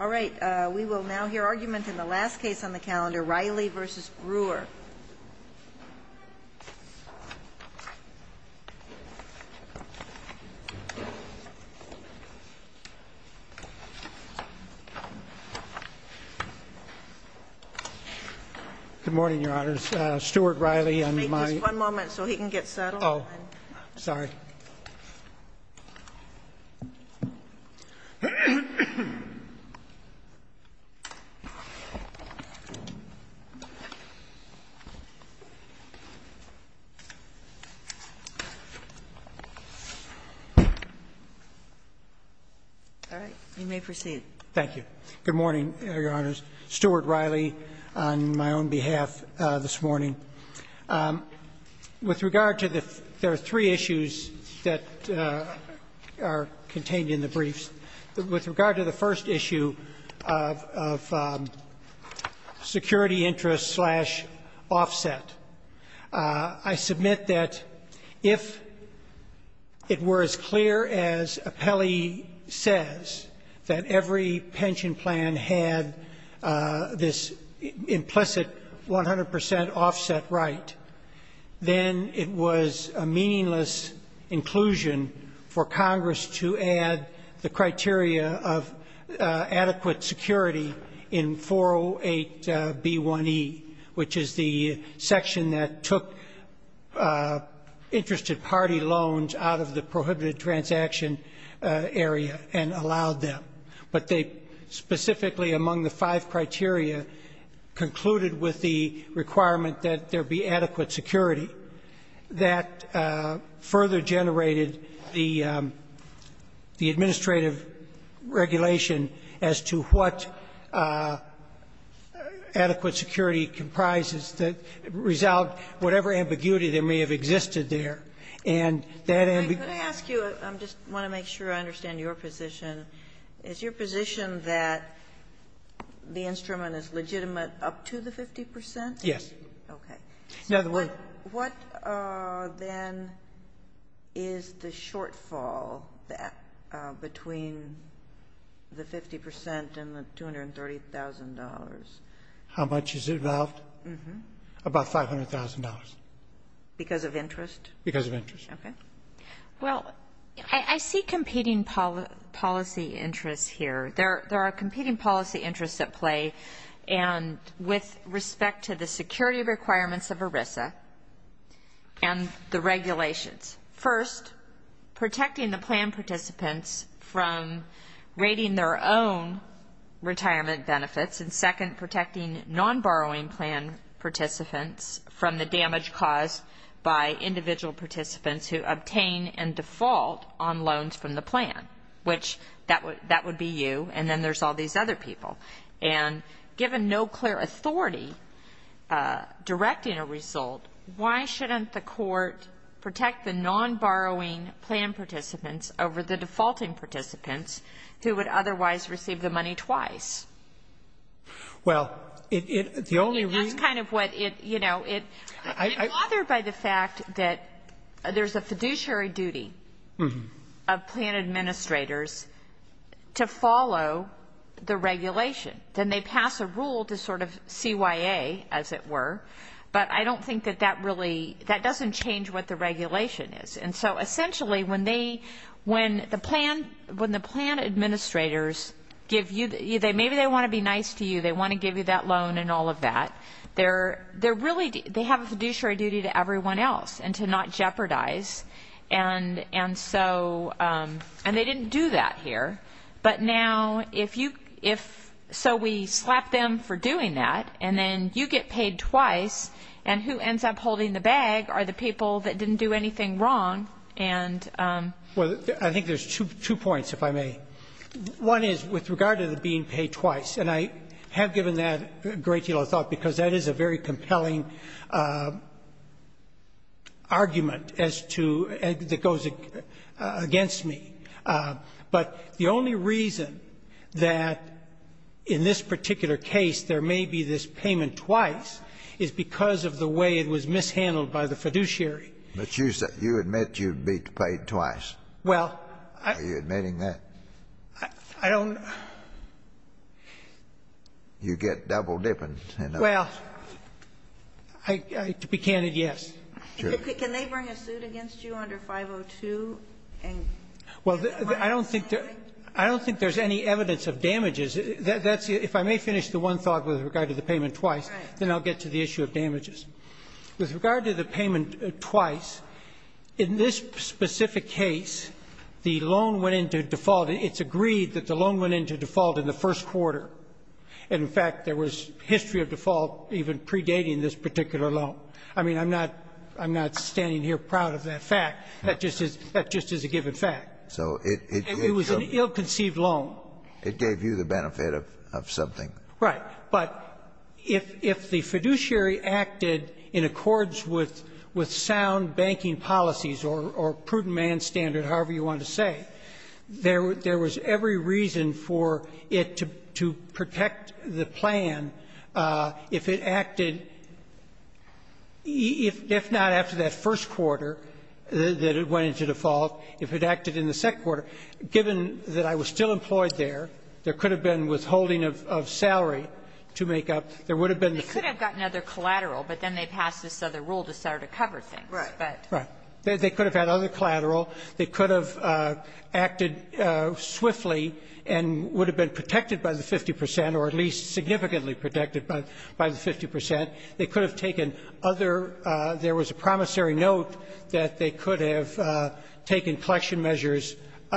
All right, we will now hear argument in the last case on the calendar, Reilly v. Brewer. Good morning, Your Honors. Stuart Reilly. Good morning, Your Honors. Stuart Reilly, on my own behalf this morning. With regard to the — there are three issues that are contained in the briefs. With regard to the first issue of security interest-slash-offset, I submit that if it were as clear as Apelli says, that every pension plan had this implicit 100 percent offset right, then it was a meaningless inclusion for Congress to add the criteria of adequate security in 408B1E, which is the section that took interested party loans out of the prohibited transaction area and allowed them. But they specifically, among the five criteria, concluded with the requirement that there be adequate security. That further generated the administrative regulation as to what adequate security comprises that resolved whatever ambiguity that may have existed there. And that ambiguity — I'm going to ask you, I just want to make sure I understand your position. Is your position that the instrument is legitimate up to the 50 percent? Yes. Okay. What, then, is the shortfall between the 50 percent and the $230,000? How much is involved? About $500,000. Because of interest? Because of interest. Okay. Well, I see competing policy interests here. There are competing policy interests at play. And with respect to the security requirements of ERISA and the regulations, first, protecting the plan participants from rating their own retirement benefits, and second, protecting non-borrowing plan participants from the damage caused by individual participants who obtain and default on loans from the plan, which that would be you, and then there's all these other people. And given no clear authority directing a result, why shouldn't the Court protect the non-borrowing plan participants over the defaulting participants who would otherwise receive the money twice? Well, it — the only reason — That's kind of what it — you know, it — I — that there's a fiduciary duty of plan administrators to follow the regulation. Then they pass a rule to sort of CYA, as it were, but I don't think that that really — that doesn't change what the regulation is. And so, essentially, when they — when the plan — when the plan administrators give you — maybe they want to be nice to you, they want to give you that loan and all of that, they're — they're really — they have a fiduciary duty to everyone else and to not jeopardize. And so — and they didn't do that here. But now, if you — if — so we slap them for doing that, and then you get paid twice, and who ends up holding the bag are the people that didn't do anything wrong. And — Well, I think there's two points, if I may. One is with regard to the being paid twice, and I have given that a great deal of thought because that is a very compelling argument as to — that goes against me. But the only reason that in this particular case there may be this payment twice is because of the way it was mishandled by the fiduciary. But you said — you admit you'd be paid twice. Well, I — Are you admitting that? I don't — You get double-dipping. Well, to be candid, yes. Sure. Can they bring a suit against you under 502? Well, I don't think there's any evidence of damages. That's — if I may finish the one thought with regard to the payment twice, then I'll get to the issue of damages. With regard to the payment twice, in this specific case, the loan went into default and it's agreed that the loan went into default in the first quarter. And, in fact, there was history of default even predating this particular loan. I mean, I'm not — I'm not standing here proud of that fact. That just is — that just is a given fact. So it — It was an ill-conceived loan. It gave you the benefit of something. Right. But if the fiduciary acted in accords with sound banking policies or prudent demand standard, however you want to say, there was every reason for it to protect the plan if it acted — if not after that first quarter that it went into default, if it acted in the second quarter. Given that I was still employed there, there could have been withholding of salary to make up — there would have been the — They could have gotten other collateral, but then they passed this other rule to start to cover things. Right. They could have had other collateral. They could have acted swiftly and would have been protected by the 50 percent, or at least significantly protected by the 50 percent. They could have taken other — there was a promissory note that they could have taken collection measures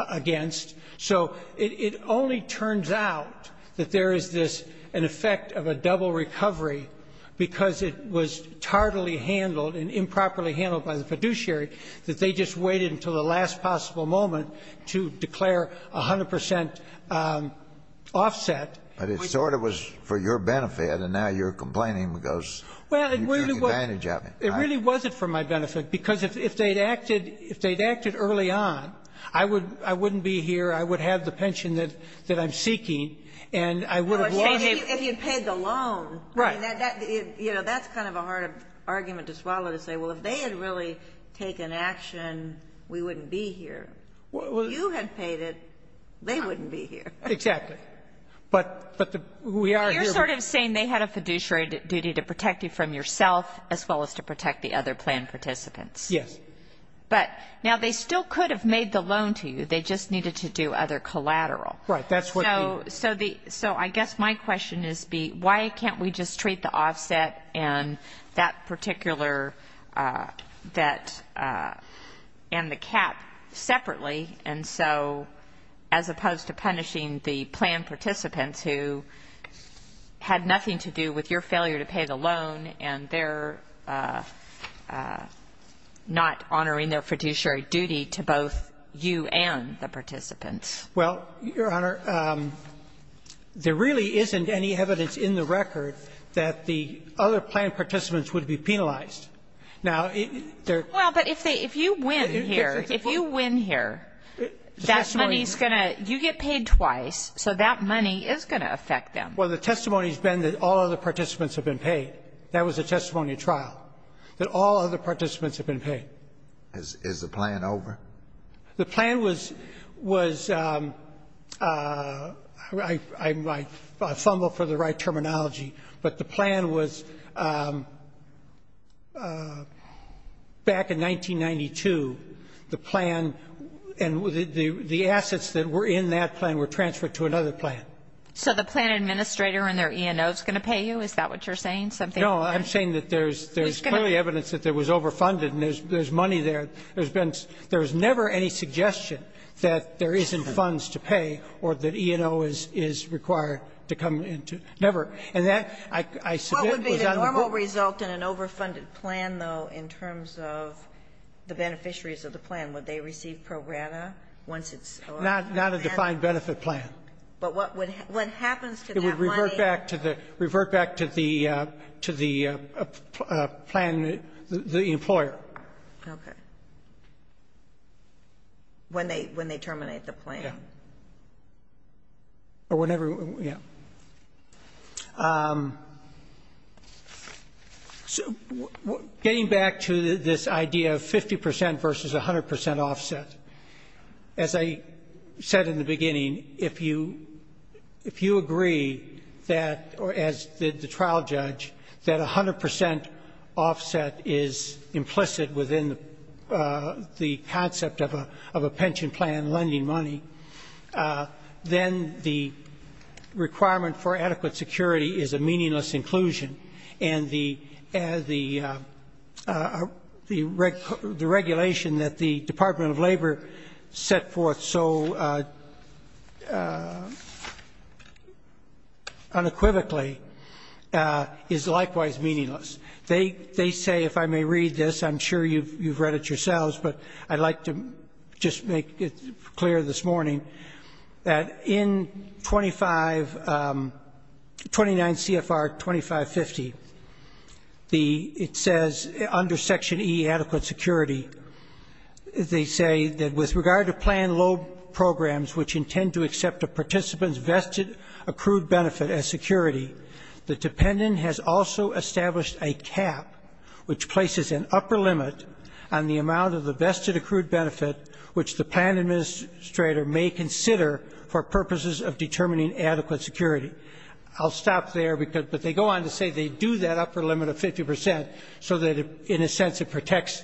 against. So it only turns out that there is this — an effect of a double recovery because it was tardily handled and improperly handled by the fiduciary that they just waited until the last possible moment to declare 100 percent offset. But it sort of was for your benefit, and now you're complaining because you're taking advantage of it. Well, it really wasn't for my benefit because if they'd acted early on, I wouldn't be here, I would have the pension that I'm seeking, and I would have lost it. If you had paid the loan. Right. You know, that's kind of a hard argument to swallow to say, well, if they had really taken action, we wouldn't be here. If you had paid it, they wouldn't be here. Exactly. But we are here. You're sort of saying they had a fiduciary duty to protect you from yourself as well as to protect the other plan participants. Yes. But now they still could have made the loan to you. They just needed to do other collateral. Right. So I guess my question is why can't we just treat the offset and that particular and the cap separately, and so as opposed to punishing the plan participants who had nothing to do with your failure to pay the loan and they're not honoring their fiduciary duty to both you and the participants? Well, Your Honor, there really isn't any evidence in the record that the other plan participants would be penalized. Now, they're ---- Well, but if they ---- if you win here, if you win here, that money is going to ---- You get paid twice, so that money is going to affect them. Well, the testimony has been that all other participants have been paid. That was the testimony at trial, that all other participants have been paid. Is the plan over? The plan was ---- I fumble for the right terminology, but the plan was back in 1992, the plan and the assets that were in that plan were transferred to another plan. So the plan administrator and their E&O is going to pay you? Is that what you're saying? No, I'm saying that there's clearly evidence that it was overfunded, and there's money there. There's been ---- there's never any suggestion that there isn't funds to pay or that E&O is required to come into ---- never. And that, I submit, was on the board. What would be the normal result in an overfunded plan, though, in terms of the beneficiaries of the plan? Would they receive pro grata once it's over? Not a defined benefit plan. But what happens to that money? It would revert back to the plan, the employer. Okay. When they terminate the plan. Yeah. Or whenever, yeah. Getting back to this idea of 50 percent versus 100 percent offset, as I said in the concept of a pension plan lending money, then the requirement for adequate security is a meaningless inclusion. And the regulation that the Department of Labor set forth so unequivocally is likewise meaningless. They say, if I may read this, I'm sure you've read it yourselves, but I'd like to just make it clear this morning, that in 25 ---- 29 CFR 2550, the ---- it says under Section E, adequate security, they say that with regard to plan loan programs which intend to accept a participant's vested accrued benefit as security, the dependent has also established a cap which places an upper limit on the amount of the vested accrued benefit which the plan administrator may consider for purposes of determining adequate security. I'll stop there, but they go on to say they do that upper limit of 50 percent so that, in a sense, it protects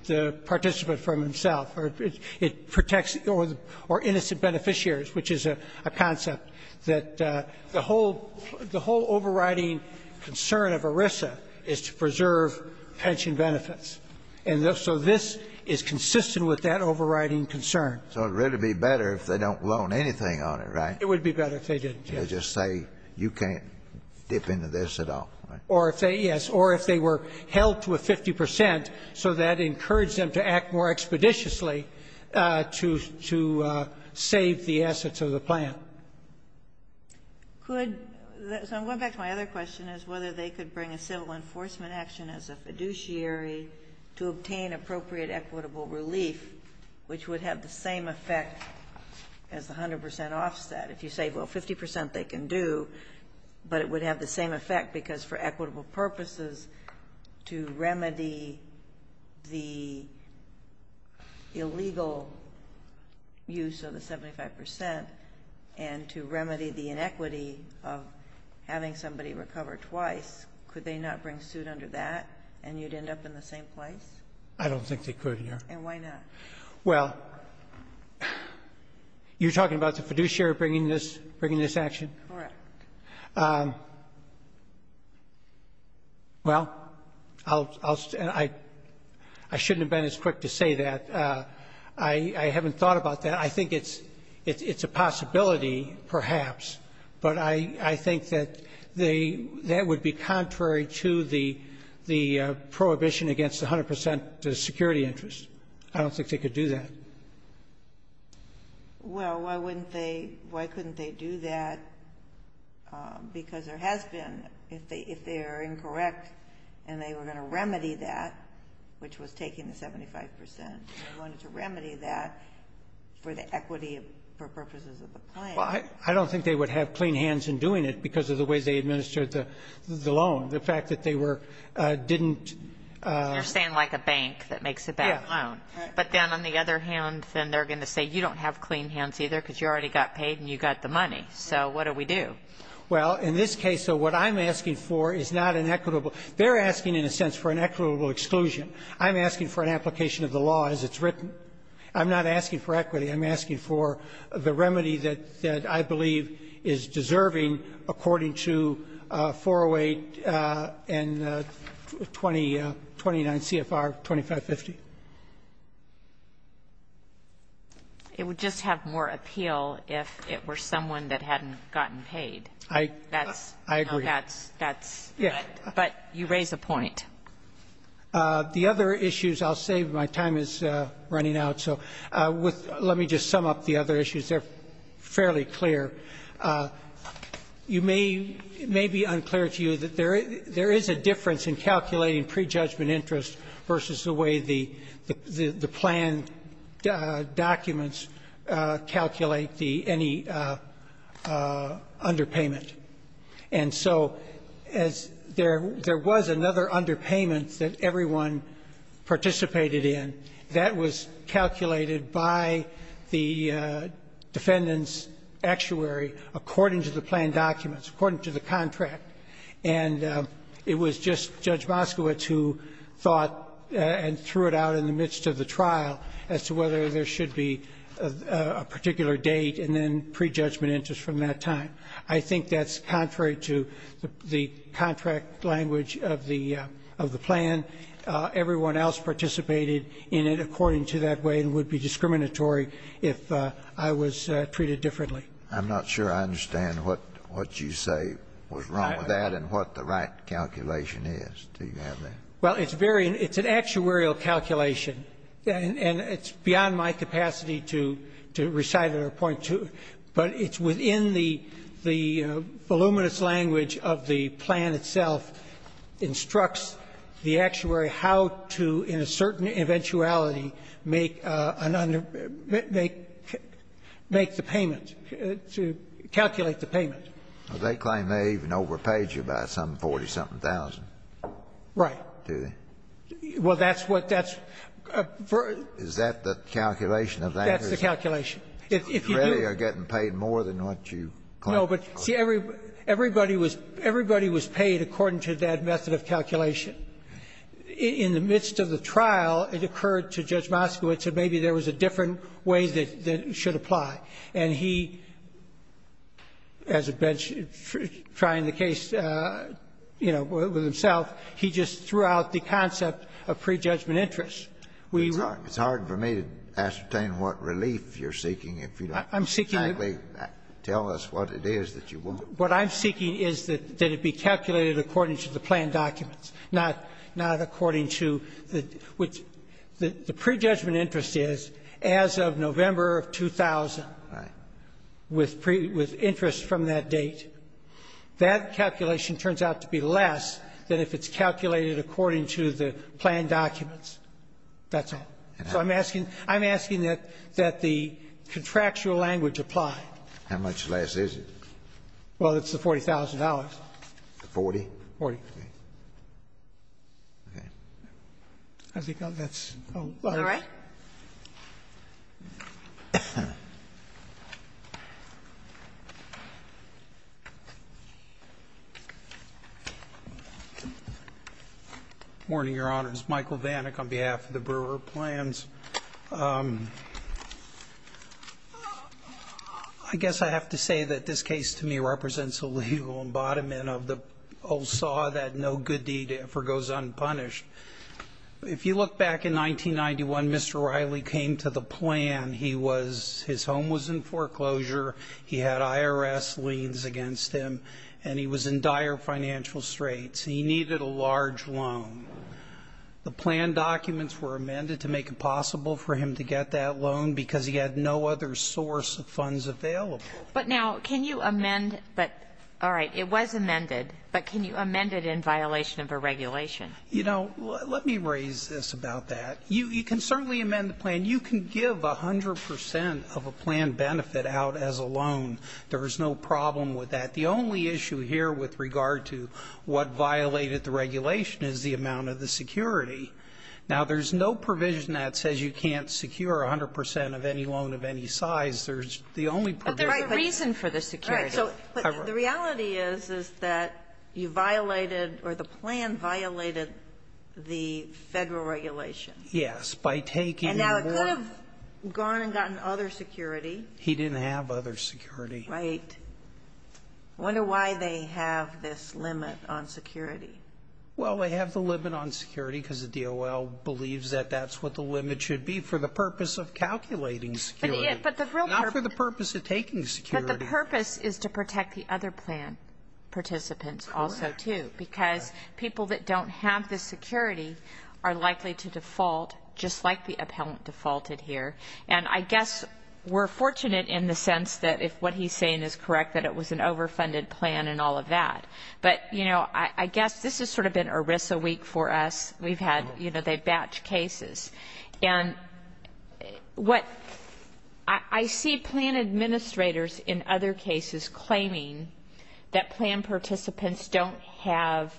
the participant from himself, or it protects or innocent beneficiaries, which is a concept. The whole overriding concern of ERISA is to preserve pension benefits. And so this is consistent with that overriding concern. So it would really be better if they don't loan anything on it, right? It would be better if they didn't, yes. They just say you can't dip into this at all, right? Or if they yes. Or if they were held to a 50 percent so that encouraged them to act more expeditiously to save the assets of the plan. So I'm going back to my other question is whether they could bring a civil enforcement action as a fiduciary to obtain appropriate equitable relief, which would have the same effect as the 100 percent offset. If you say, well, 50 percent they can do, but it would have the same effect because for equitable purposes to remedy the legal use of the 75 percent and to remedy the inequity of having somebody recover twice, could they not bring suit under that and you'd end up in the same place? I don't think they could, Your Honor. And why not? Well, you're talking about the fiduciary bringing this action? Correct. Well, I shouldn't have been as quick to say that. I haven't thought about that. I think it's a possibility, perhaps. But I think that that would be contrary to the prohibition against the 100 percent security interest. I don't think they could do that. Well, why wouldn't they? Why couldn't they do that? Because there has been, if they are incorrect and they were going to remedy that, which was taking the 75 percent, they wanted to remedy that for the equity for purposes of the plan. Well, I don't think they would have clean hands in doing it because of the ways they administered the loan. The fact that they were didn't. You're saying like a bank that makes a bad loan. Yeah. But then on the other hand, then they're going to say you don't have clean hands either because you already got paid and you got the money. So what do we do? Well, in this case, what I'm asking for is not an equitable. They're asking, in a sense, for an equitable exclusion. I'm asking for an application of the law as it's written. I'm not asking for equity. I'm asking for the remedy that I believe is deserving according to 408 and 2029 CFR 2550. It would just have more appeal if it were someone that hadn't gotten paid. I agree. But you raise a point. The other issues I'll save. My time is running out. Let me just sum up the other issues. They're fairly clear. It may be unclear to you that there is a difference in calculating prejudgment interest versus the way the plan documents calculate any underpayment. And so there was another underpayment that everyone participated in. That was calculated by the defendant's actuary according to the plan documents, according to the contract. And it was just Judge Moskowitz who thought and threw it out in the midst of the trial as to whether there should be a particular date and then prejudgment interest from that time. I think that's contrary to the contract language of the plan. Everyone else participated in it according to that way and would be discriminatory if I was treated differently. I'm not sure I understand what you say was wrong with that and what the right calculation is. Do you have that? Well, it's very — it's an actuarial calculation. And it's beyond my capacity to recite it or point to it. But it's within the voluminous language of the plan itself instructs the actuary how to, in a certain eventuality, make the payment, to calculate the payment. Well, they claim they even overpaid you by some 40-something thousand. Right. Do they? Well, that's what that's — Is that the calculation of that? That's the calculation. If you do — You really are getting paid more than what you claim. No, but see, everybody was — everybody was paid according to that method of calculation. In the midst of the trial, it occurred to Judge Moskowitz that maybe there was a different way that should apply. And he, as a bench trying the case, you know, with himself, he just threw out the concept of prejudgment interest. It's hard for me to ascertain what relief you're seeking if you don't exactly tell us what it is that you want. What I'm seeking is that it be calculated according to the plan documents, not according to the — which the prejudgment interest is as of November of 2000. Right. With interest from that date. That calculation turns out to be less than if it's calculated according to the plan documents. That's all. So I'm asking — I'm asking that the contractual language apply. How much less is it? Well, it's the $40,000. Forty? Forty. Okay. I think that's all. All right. Good morning, Your Honors. Michael Vanik on behalf of the Brewer Plans. I guess I have to say that this case to me represents a legal embodiment of the old saw that no good deed ever goes unpunished. If you look back in 1991, Mr. Riley came to the plan. He was — his home was in foreclosure. He had IRS liens against him, and he was in dire financial straits. He needed a large loan. The plan documents were amended to make it possible for him to get that loan because he had no other source of funds available. But now, can you amend — all right, it was amended, but can you amend it in violation of a regulation? You know, let me raise this about that. You can certainly amend the plan. You can give 100 percent of a plan benefit out as a loan. There is no problem with that. The only issue here with regard to what violated the regulation is the amount of the security. Now, there's no provision that says you can't secure 100 percent of any loan of any size. There's the only — But there's a reason for the security. But the reality is, is that you violated — or the plan violated the Federal regulation. Yes. By taking more — And now it could have gone and gotten other security. He didn't have other security. Right. I wonder why they have this limit on security. Well, they have the limit on security because the DOL believes that that's what the limit should be for the purpose of calculating security, not for the purpose of taking security. But the purpose is to protect the other plan participants also, too, because people that don't have the security are likely to default, just like the appellant defaulted here. And I guess we're fortunate in the sense that if what he's saying is correct, that it was an overfunded plan and all of that. But, you know, I guess this has sort of been ERISA week for us. And what — I see plan administrators in other cases claiming that plan participants don't have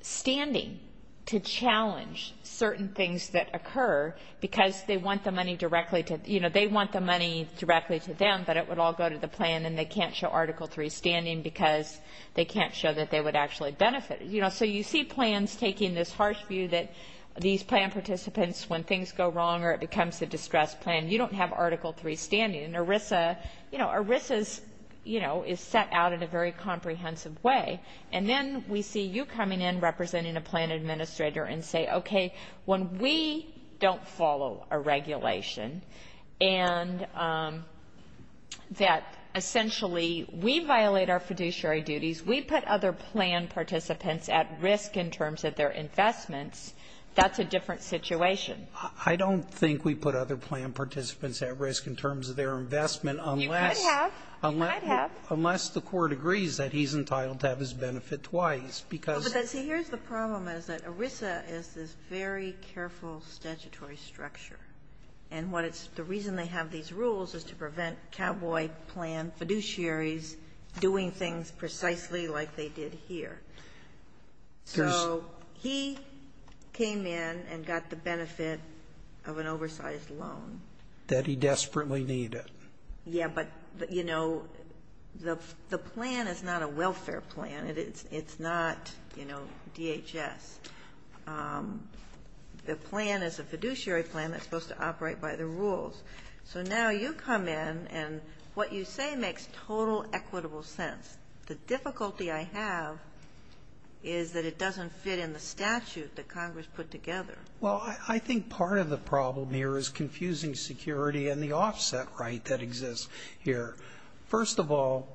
standing to challenge certain things that occur because they want the money directly to — you know, they want the money directly to them, but it would all go to the plan and they can't show Article III standing because they can't show that they would actually benefit. You know, so you see plans taking this harsh view that these plan participants, when things go wrong or it becomes a distressed plan, you don't have Article III standing. And ERISA, you know, ERISA's, you know, is set out in a very comprehensive way. And then we see you coming in representing a plan administrator and say, okay, when we don't follow a regulation and that essentially we violate our fiduciary duties, we put other plan participants at risk in terms of their investments. That's a different situation. I don't think we put other plan participants at risk in terms of their investment unless — You could have. You might have. Unless the Court agrees that he's entitled to have his benefit twice, because — But then, see, here's the problem, is that ERISA is this very careful statutory structure. And what it's — the reason they have these rules is to prevent cowboy plan fiduciaries doing things precisely like they did here. So he came in and got the benefit of an oversized loan. That he desperately needed. Yeah. But, you know, the plan is not a welfare plan. It's not, you know, DHS. The plan is a fiduciary plan that's supposed to operate by the rules. So now you come in and what you say makes total equitable sense. The difficulty I have is that it doesn't fit in the statute that Congress put together. Well, I think part of the problem here is confusing security and the offset right that exists here. First of all,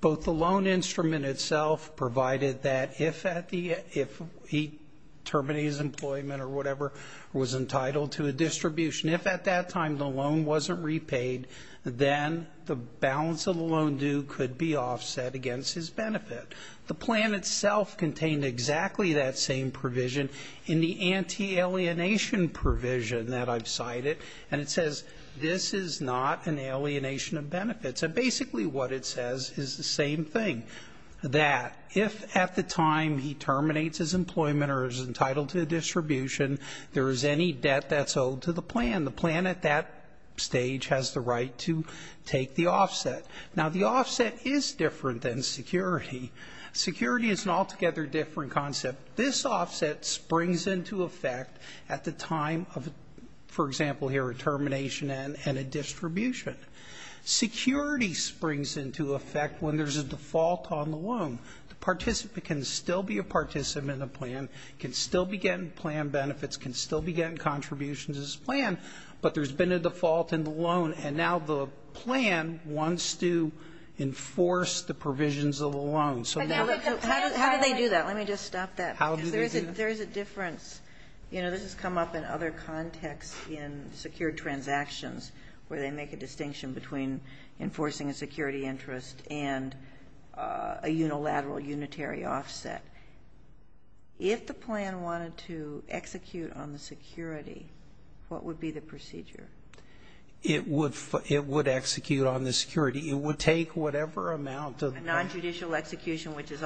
both the loan instrument itself provided that if at the — if he terminates employment or whatever, was entitled to a distribution, if at that time the loan wasn't repaid, then the balance of the loan due could be offset against his benefit. The plan itself contained exactly that same provision in the anti-alienation provision that I've cited. And it says this is not an alienation of benefits. And basically what it says is the same thing. That if at the time he terminates his employment or is entitled to a distribution, there is any debt that's owed to the plan. And the plan at that stage has the right to take the offset. Now, the offset is different than security. Security is an altogether different concept. This offset springs into effect at the time of, for example here, a termination and a distribution. Security springs into effect when there's a default on the loan. The participant can still be a participant in the plan, can still be getting plan benefits, can still be getting contributions to this plan, but there's been a default in the loan. And now the plan wants to enforce the provisions of the loan. So now the plan has to do that. How do they do that? Let me just stop that. How do they do that? There is a difference. You know, this has come up in other contexts in secured transactions where they make a distinction between enforcing a security interest and a unilateral unitary offset. If the plan wanted to execute on the security, what would be the procedure? It would execute on the security. It would take whatever amount of the plan. A nonjudicial execution, which is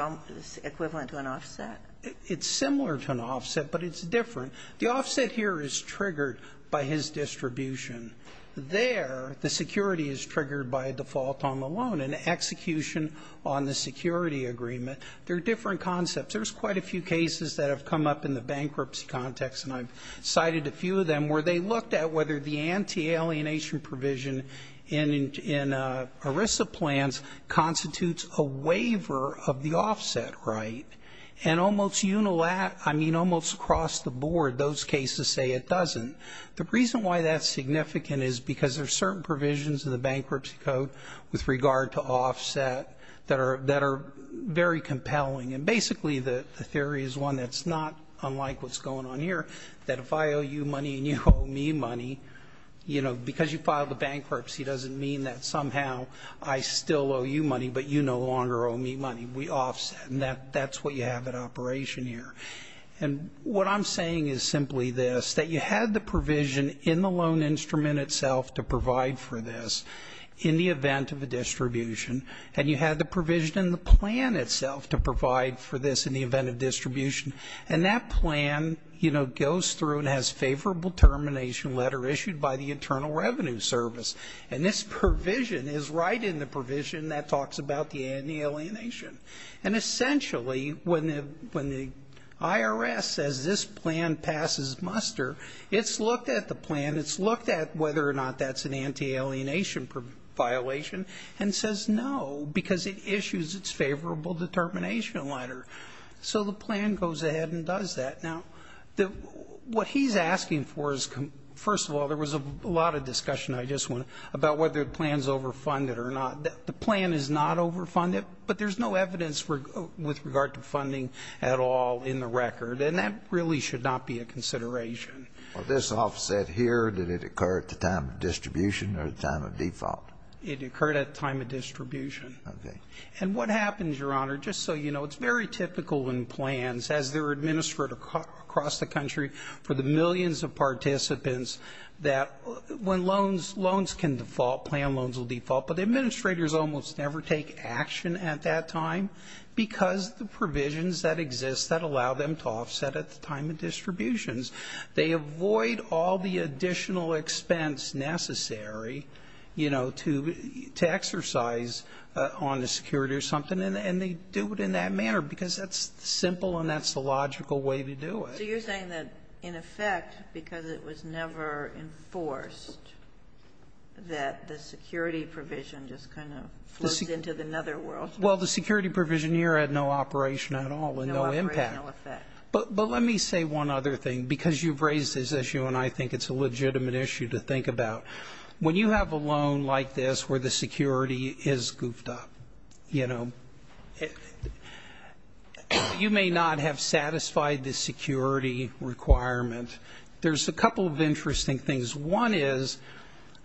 equivalent to an offset? It's similar to an offset, but it's different. The offset here is triggered by his distribution. There, the security is triggered by a default on the loan, an execution on the security agreement. There are different concepts. There's quite a few cases that have come up in the bankruptcy context, and I've cited a few of them, where they looked at whether the anti-alienation provision in ERISA plans constitutes a waiver of the offset right. And almost across the board, those cases say it doesn't. The reason why that's significant is because there are certain provisions in And basically, the theory is one that's not unlike what's going on here, that if I owe you money and you owe me money, you know, because you filed a bankruptcy doesn't mean that somehow I still owe you money, but you no longer owe me money. We offset, and that's what you have at operation here. And what I'm saying is simply this, that you had the provision in the loan instrument itself to provide for this in the event of a distribution, and you had the provision in the plan itself to provide for this in the event of distribution, and that plan, you know, goes through and has favorable termination letter issued by the Internal Revenue Service. And this provision is right in the provision that talks about the anti-alienation. And essentially, when the IRS says this plan passes muster, it's looked at the plan, it's looked at whether or not that's an anti-alienation violation, and it says no, because it issues its favorable determination letter. So the plan goes ahead and does that. Now, what he's asking for is, first of all, there was a lot of discussion, I just want to, about whether the plan's overfunded or not. The plan is not overfunded, but there's no evidence with regard to funding at all in the record, and that really should not be a consideration. Well, this offset here, did it occur at the time of distribution or the time of default? It occurred at the time of distribution. Okay. And what happens, Your Honor, just so you know, it's very typical in plans as they're administered across the country for the millions of participants that when loans can default, plan loans will default, but the administrators almost never take action at that time because the provisions that exist that allow them to offset at the time of distributions, they avoid all the additional expense necessary, you know, to exercise on the security or something, and they do it in that manner because that's simple and that's the logical way to do it. So you're saying that, in effect, because it was never enforced, that the security provision just kind of flows into another world? Well, the security provision here had no operation at all and no impact. No operational effect. But let me say one other thing, because you've raised this issue and I think it's a legitimate issue to think about. When you have a loan like this where the security is goofed up, you know, you may not have satisfied the security requirement. There's a couple of interesting things. One is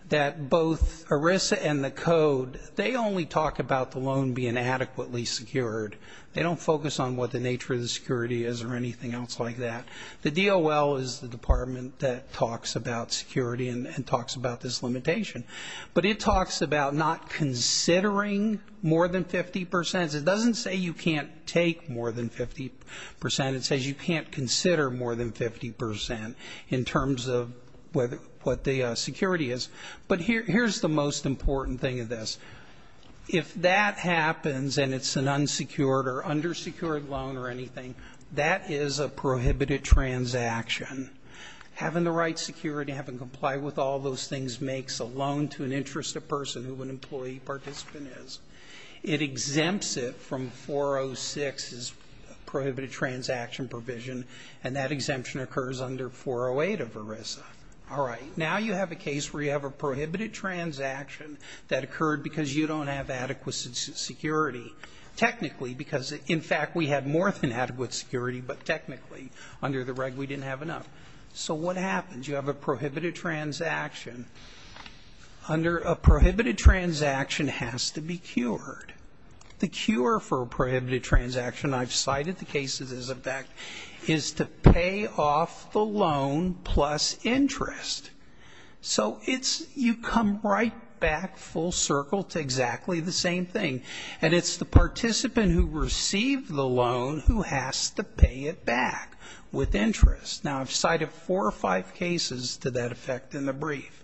that both ERISA and the Code, they only talk about the loan being adequately secured. They don't focus on what the nature of the security is or anything else like that. The DOL is the department that talks about security and talks about this limitation. But it talks about not considering more than 50%. It doesn't say you can't take more than 50%. It says you can't consider more than 50% in terms of what the security is. But here's the most important thing of this. If that happens and it's an unsecured or undersecured loan or anything, that is a prohibited transaction. Having the right security, having to comply with all those things makes a loan to an interested person who an employee participant is. It exempts it from 406, prohibited transaction provision, and that exemption occurs under 408 of ERISA. All right. Now you have a case where you have a prohibited transaction that occurred because you don't have adequate security. Technically, because, in fact, we had more than adequate security, but technically under the reg we didn't have enough. So what happens? You have a prohibited transaction. Under a prohibited transaction has to be cured. The cure for a prohibited transaction, I've cited the cases as a fact, is to pay off the loan plus interest. So you come right back full circle to exactly the same thing. And it's the participant who received the loan who has to pay it back with interest. Now I've cited four or five cases to that effect in the brief.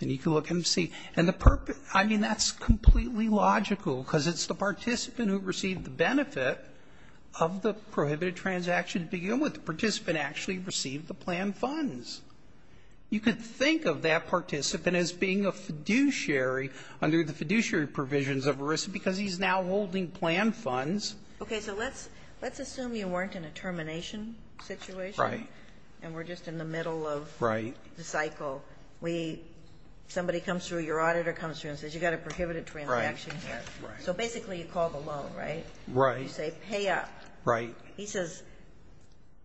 And you can look and see. I mean, that's completely logical because it's the participant who received the benefit of the prohibited transaction to begin with. The participant actually received the planned funds. You could think of that participant as being a fiduciary under the fiduciary provisions of risk because he's now holding planned funds. Okay. So let's assume you weren't in a termination situation. Right. And we're just in the middle of the cycle. Right. Somebody comes through, your auditor comes through and says you've got a prohibited transaction here. Right. Right. So basically you call the loan, right? Right. You say pay up. Right. He says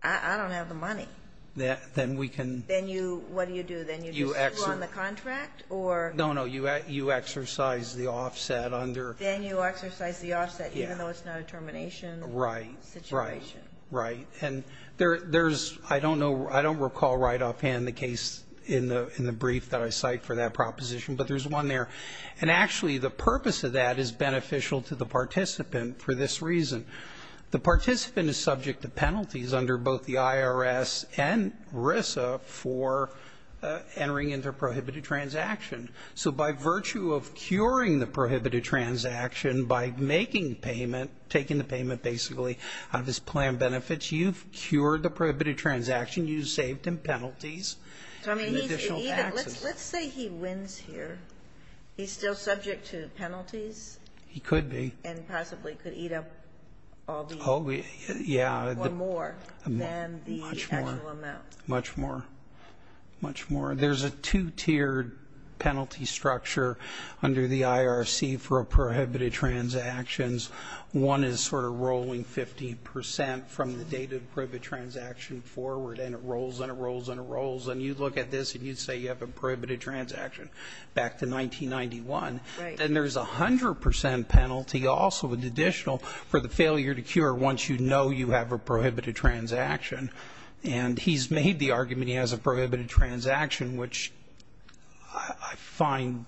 I don't have the money. Then we can. Then what do you do? Then you do sue on the contract or. No, no, you exercise the offset under. Then you exercise the offset even though it's not a termination. Right. Situation. Right. And there's, I don't know, I don't recall right offhand the case in the brief that I cite for that proposition, but there's one there. And actually the purpose of that is beneficial to the participant for this reason. The participant is subject to penalties under both the IRS and RISA for entering into a prohibited transaction. So by virtue of curing the prohibited transaction by making payment, taking the payment basically out of his plan benefits, you've cured the prohibited transaction. You saved him penalties. Let's say he wins here. He's still subject to penalties. He could be. And possibly could eat up all the. Yeah. Or more than the actual amount. Much more. Much more. There's a two-tiered penalty structure under the IRC for a prohibited transactions. One is sort of rolling 50% from the date of the prohibited transaction forward. And it rolls and it rolls and it rolls. And you look at this and you'd say you have a prohibited transaction back to 1991. Right. And there's 100% penalty also with additional for the failure to cure once you know you have a prohibited transaction. And he's made the argument he has a prohibited transaction, which I find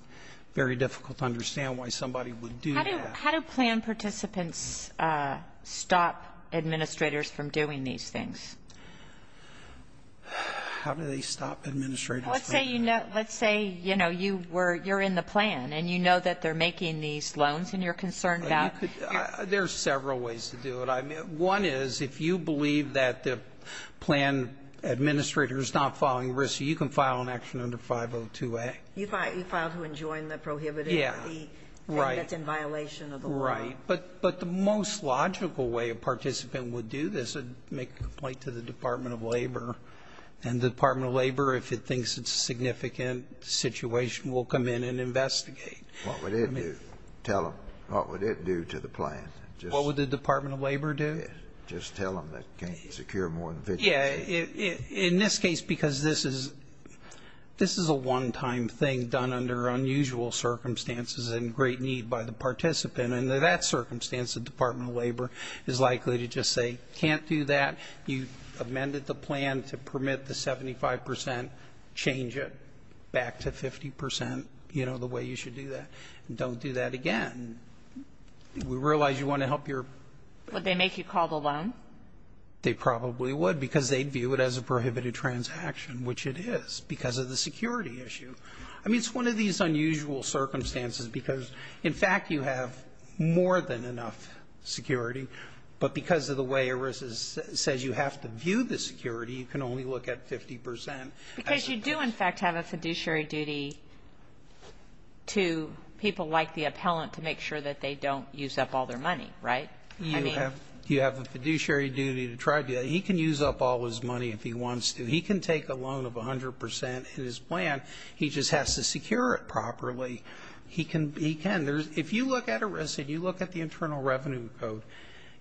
very difficult to understand why somebody would do that. How do plan participants stop administrators from doing these things? How do they stop administrators? Let's say you know. Let's say, you know, you were. You're in the plan and you know that they're making these loans and you're concerned about. There are several ways to do it. One is if you believe that the plan administrator is not following risk, you can file an action under 502A. You file to enjoin the prohibited. Yeah. And that's in violation of the law. Right. But the most logical way a participant would do this is make a complaint to the Department of Labor. And the Department of Labor, if it thinks it's a significant situation, will come in and investigate. What would it do? Tell them. What would it do to the plan? What would the Department of Labor do? Just tell them that you can't secure more than 502A. Yeah. In this case, because this is a one-time thing done under unusual circumstances and great need by the participant. Under that circumstance, the Department of Labor is likely to just say, can't do that. You amended the plan to permit the 75 percent, change it back to 50 percent, you know, the way you should do that. Don't do that again. We realize you want to help your ---- Would they make you call the loan? They probably would because they'd view it as a prohibited transaction, which it is because of the security issue. I mean, it's one of these unusual circumstances because, in fact, you have more than enough security. But because of the way ERISA says you have to view the security, you can only look at 50 percent. Because you do, in fact, have a fiduciary duty to people like the appellant to make sure that they don't use up all their money, right? You have a fiduciary duty to try to do that. He can use up all his money if he wants to. He can take a loan of 100 percent in his plan. He just has to secure it properly. He can. If you look at ERISA and you look at the Internal Revenue Code,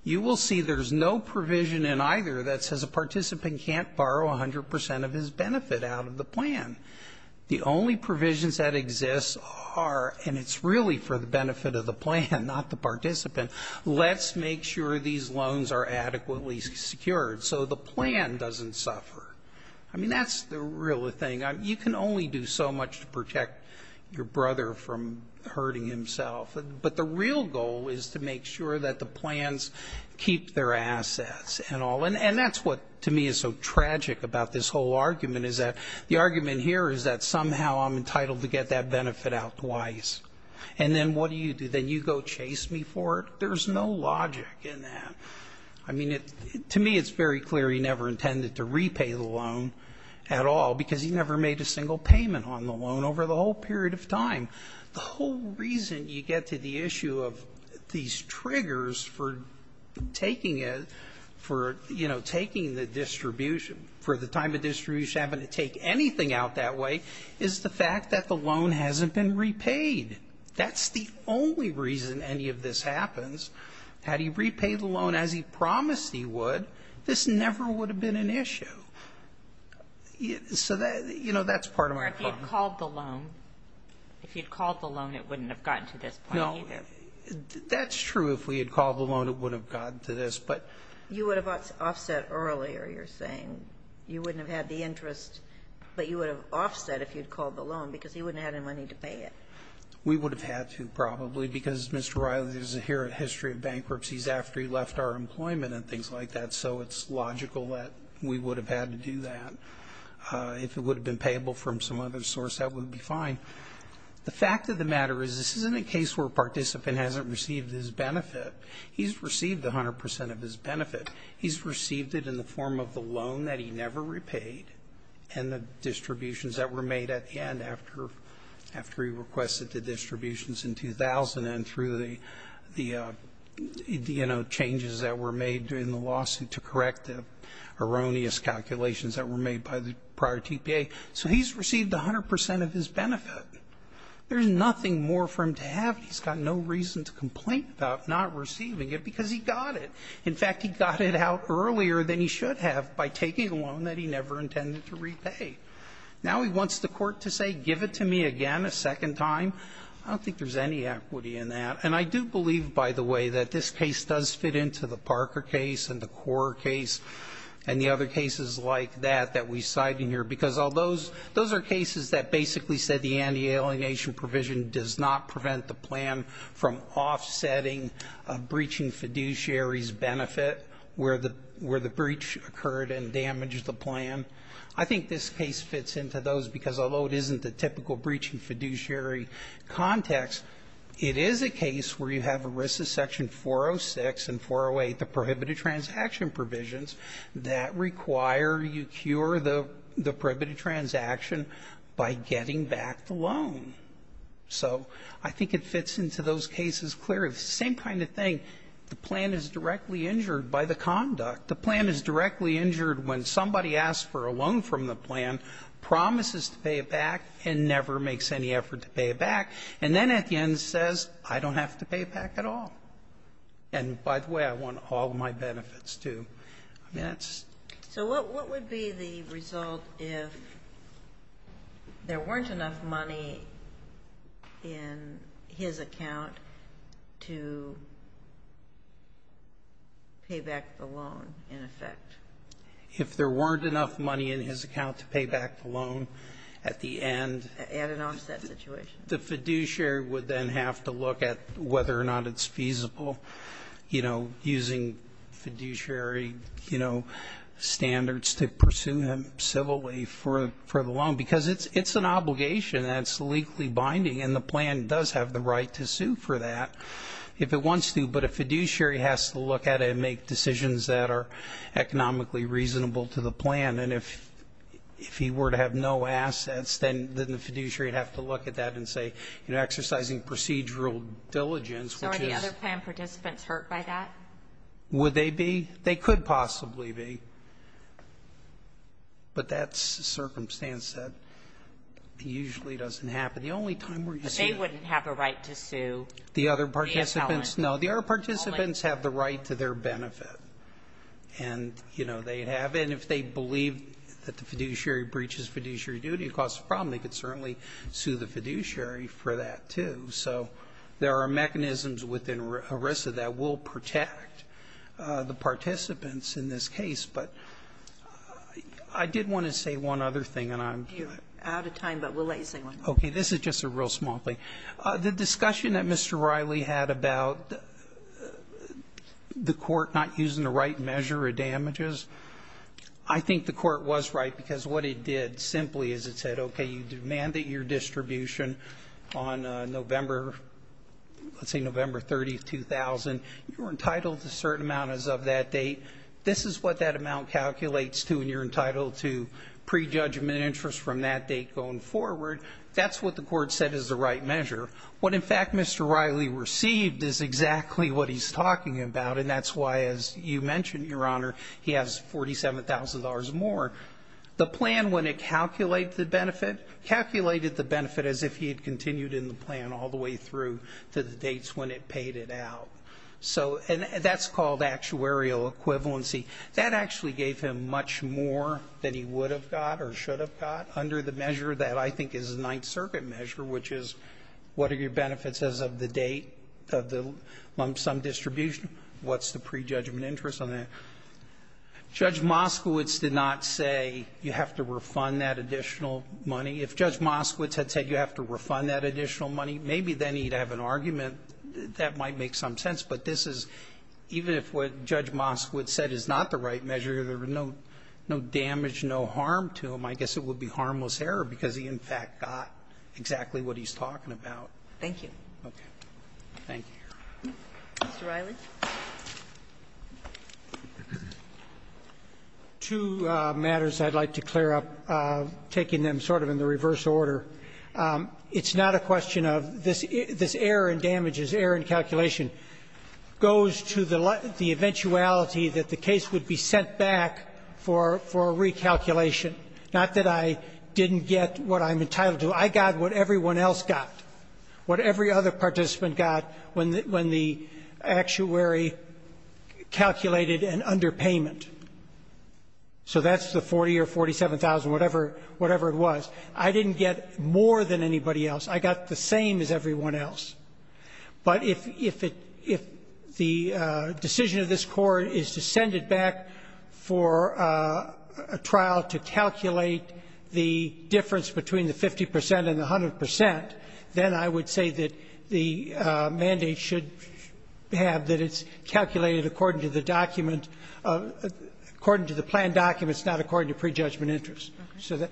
you will see there's no provision in either that says a participant can't borrow 100 percent of his benefit out of the plan. The only provisions that exist are, and it's really for the benefit of the plan, not the participant, let's make sure these loans are adequately secured so the plan doesn't suffer. I mean, that's the real thing. You can only do so much to protect your brother from hurting himself. But the real goal is to make sure that the plans keep their assets and all. And that's what, to me, is so tragic about this whole argument, is that the argument here is that somehow I'm entitled to get that benefit out twice. And then what do you do? Then you go chase me for it? There's no logic in that. I mean, to me it's very clear he never intended to repay the loan at all because he never made a single payment on the loan over the whole period of time. The whole reason you get to the issue of these triggers for taking it, for, you know, taking the distribution, for the time of distribution having to take anything out that way, is the fact that the loan hasn't been repaid. That's the only reason any of this happens. Had he repaid the loan as he promised he would, this never would have been an issue. So, you know, that's part of my problem. If he had called the loan. If he had called the loan, it wouldn't have gotten to this point either. No, that's true. If we had called the loan, it would have gotten to this. But you would have offset earlier, you're saying. You wouldn't have had the interest, but you would have offset if you'd called the loan because he wouldn't have had any money to pay it. We would have had to probably because Mr. Riley doesn't hear a history of bankruptcies after he left our employment and things like that. So it's logical that we would have had to do that. If it would have been payable from some other source, that would be fine. The fact of the matter is this isn't a case where a participant hasn't received his benefit. He's received 100% of his benefit. He's received it in the form of the loan that he never repaid and the distributions that were made at the end after he requested the distributions in 2000 and through the changes that were made during the lawsuit to correct the erroneous calculations that were made by the prior TPA. So he's received 100% of his benefit. There's nothing more for him to have. He's got no reason to complain about not receiving it because he got it. In fact, he got it out earlier than he should have by taking a loan that he never intended to repay. Now he wants the court to say give it to me again a second time. I don't think there's any equity in that. And I do believe, by the way, that this case does fit into the Parker case and the Korr case and the other cases like that that we cite in here because those are cases that basically said the anti-alienation provision does not prevent the plan from offsetting a breaching fiduciary's benefit where the breach occurred and damaged the plan. I think this case fits into those because although it isn't the typical breaching fiduciary context, it is a case where you have a risk of Section 406 and 408, the prohibited transaction provisions, that require you cure the prohibited transaction by getting back the loan. So I think it fits into those cases clearly. It's the same kind of thing. The plan is directly injured by the conduct. The plan is directly injured when somebody asks for a loan from the plan, promises to pay it back, and never makes any effort to pay it back, and then at the end says I don't have to pay it back at all. And by the way, I want all my benefits, too. So what would be the result if there weren't enough money in his account to pay back the loan in effect? If there weren't enough money in his account to pay back the loan at the end. At an offset situation. The fiduciary would then have to look at whether or not it's feasible using fiduciary standards to pursue him civilly for the loan. Because it's an obligation that's legally binding, and the plan does have the right to sue for that if it wants to. But a fiduciary has to look at it and make decisions that are economically reasonable to the plan. And if he were to have no assets, then the fiduciary would have to look at that and say, you know, exercising procedural diligence, which is. So are the other plan participants hurt by that? Would they be? They could possibly be. But that's a circumstance that usually doesn't happen. The only time where you see it. But they wouldn't have a right to sue the appellant. The other participants, no. The other participants have the right to their benefit. And, you know, they have it. And if they believe that the fiduciary breaches fiduciary duty, it causes a problem. They could certainly sue the fiduciary for that, too. So there are mechanisms within ERISA that will protect the participants in this case. But I did want to say one other thing, and I'm. You're out of time, but we'll let you say one. Okay. This is just a real small thing. The discussion that Mr. Riley had about the court not using the right measure of damages, I think the court was right because what it did simply is it said, okay, you demanded your distribution on November, let's say November 30, 2000. You were entitled to a certain amount as of that date. This is what that amount calculates to, and you're entitled to prejudgment interest from that date going forward. That's what the court said is the right measure. What, in fact, Mr. Riley received is exactly what he's talking about, and that's why, as you mentioned, Your Honor, he has $47,000 more. The plan, when it calculated the benefit, calculated the benefit as if he had continued in the plan all the way through to the dates when it paid it out. So that's called actuarial equivalency. That actually gave him much more than he would have got or should have got under the measure that I think is the Ninth Circuit measure, which is what are your benefits as of the date of some distribution, what's the prejudgment interest on that. Judge Moskowitz did not say you have to refund that additional money. If Judge Moskowitz had said you have to refund that additional money, maybe then he'd have an argument that might make some sense. But this is, even if what Judge Moskowitz said is not the right measure, there was no damage, no harm to him, I guess it would be harmless error because he, in fact, got exactly what he's talking about. Thank you. Okay. Thank you, Your Honor. Mr. Riley. Two matters I'd like to clear up, taking them sort of in the reverse order. It's not a question of this error in damages, error in calculation, goes to the eventuality that the case would be sent back for recalculation. Not that I didn't get what I'm entitled to. I got what everyone else got, what every other participant got when the actuary calculated an underpayment. So that's the 40 or 47,000, whatever it was. I didn't get more than anybody else. I got the same as everyone else. But if the decision of this Court is to send it back for a trial to calculate the difference between the 50 percent and the 100 percent, then I would say that the mandate should have that it's calculated according to the document, according to the planned documents, not according to prejudgment interest. Okay.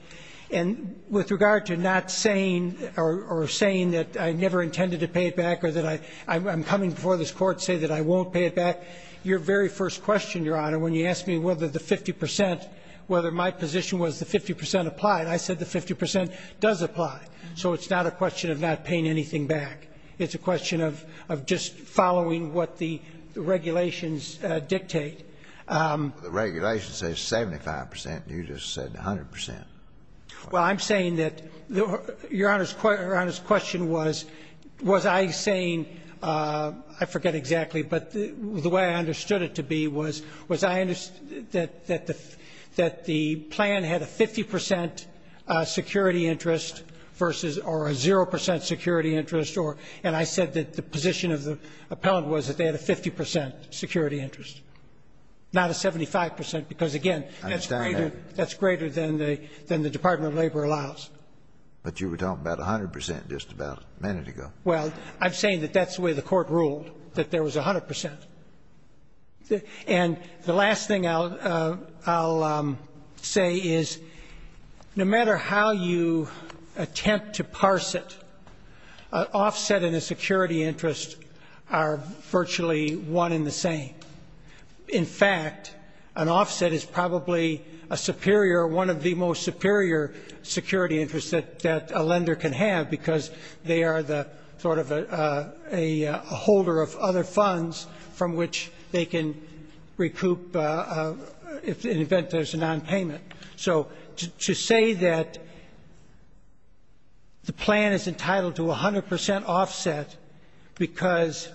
And with regard to not saying or saying that I never intended to pay it back or that I'm coming before this Court to say that I won't pay it back, your very first question, Your Honor, when you asked me whether the 50 percent, whether my position was the 50 percent applied, I said the 50 percent does apply. So it's not a question of not paying anything back. It's a question of just following what the regulations dictate. The regulations say 75 percent, and you just said 100 percent. Well, I'm saying that Your Honor's question was, was I saying, I forget exactly, but the way I understood it to be was, was I that the plan had a 50 percent security interest versus or a zero percent security interest, and I said that the position of the appellant was that they had a 50 percent security interest, not a 75 percent, because, again, that's greater. I understand that. That's greater than the Department of Labor allows. But you were talking about 100 percent just about a minute ago. Well, I'm saying that that's the way the Court ruled, that there was 100 percent. And the last thing I'll say is, no matter how you attempt to parse it, an offset and a security interest are virtually one in the same. In fact, an offset is probably a superior, one of the most superior security interests that a lender can have because they are the sort of a holder of other funds from which they can recoup in the event there's a nonpayment. So to say that the plan is entitled to 100 percent offset because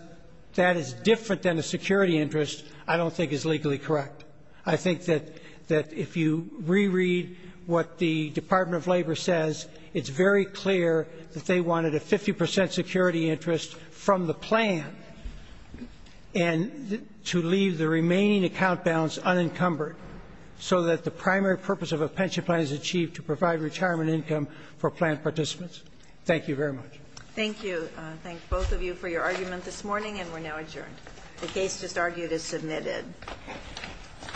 that is different than a security interest I don't think is legally correct. I think that if you reread what the Department of Labor says, it's very clear that they wanted a 50 percent security interest from the plan and to leave the remaining account balance unencumbered so that the primary purpose of a pension plan is achieved to provide retirement income for plan participants. Thank you very much. Thank you. I thank both of you for your argument this morning, and we're now adjourned. The case just argued is submitted. All rise. This court is session.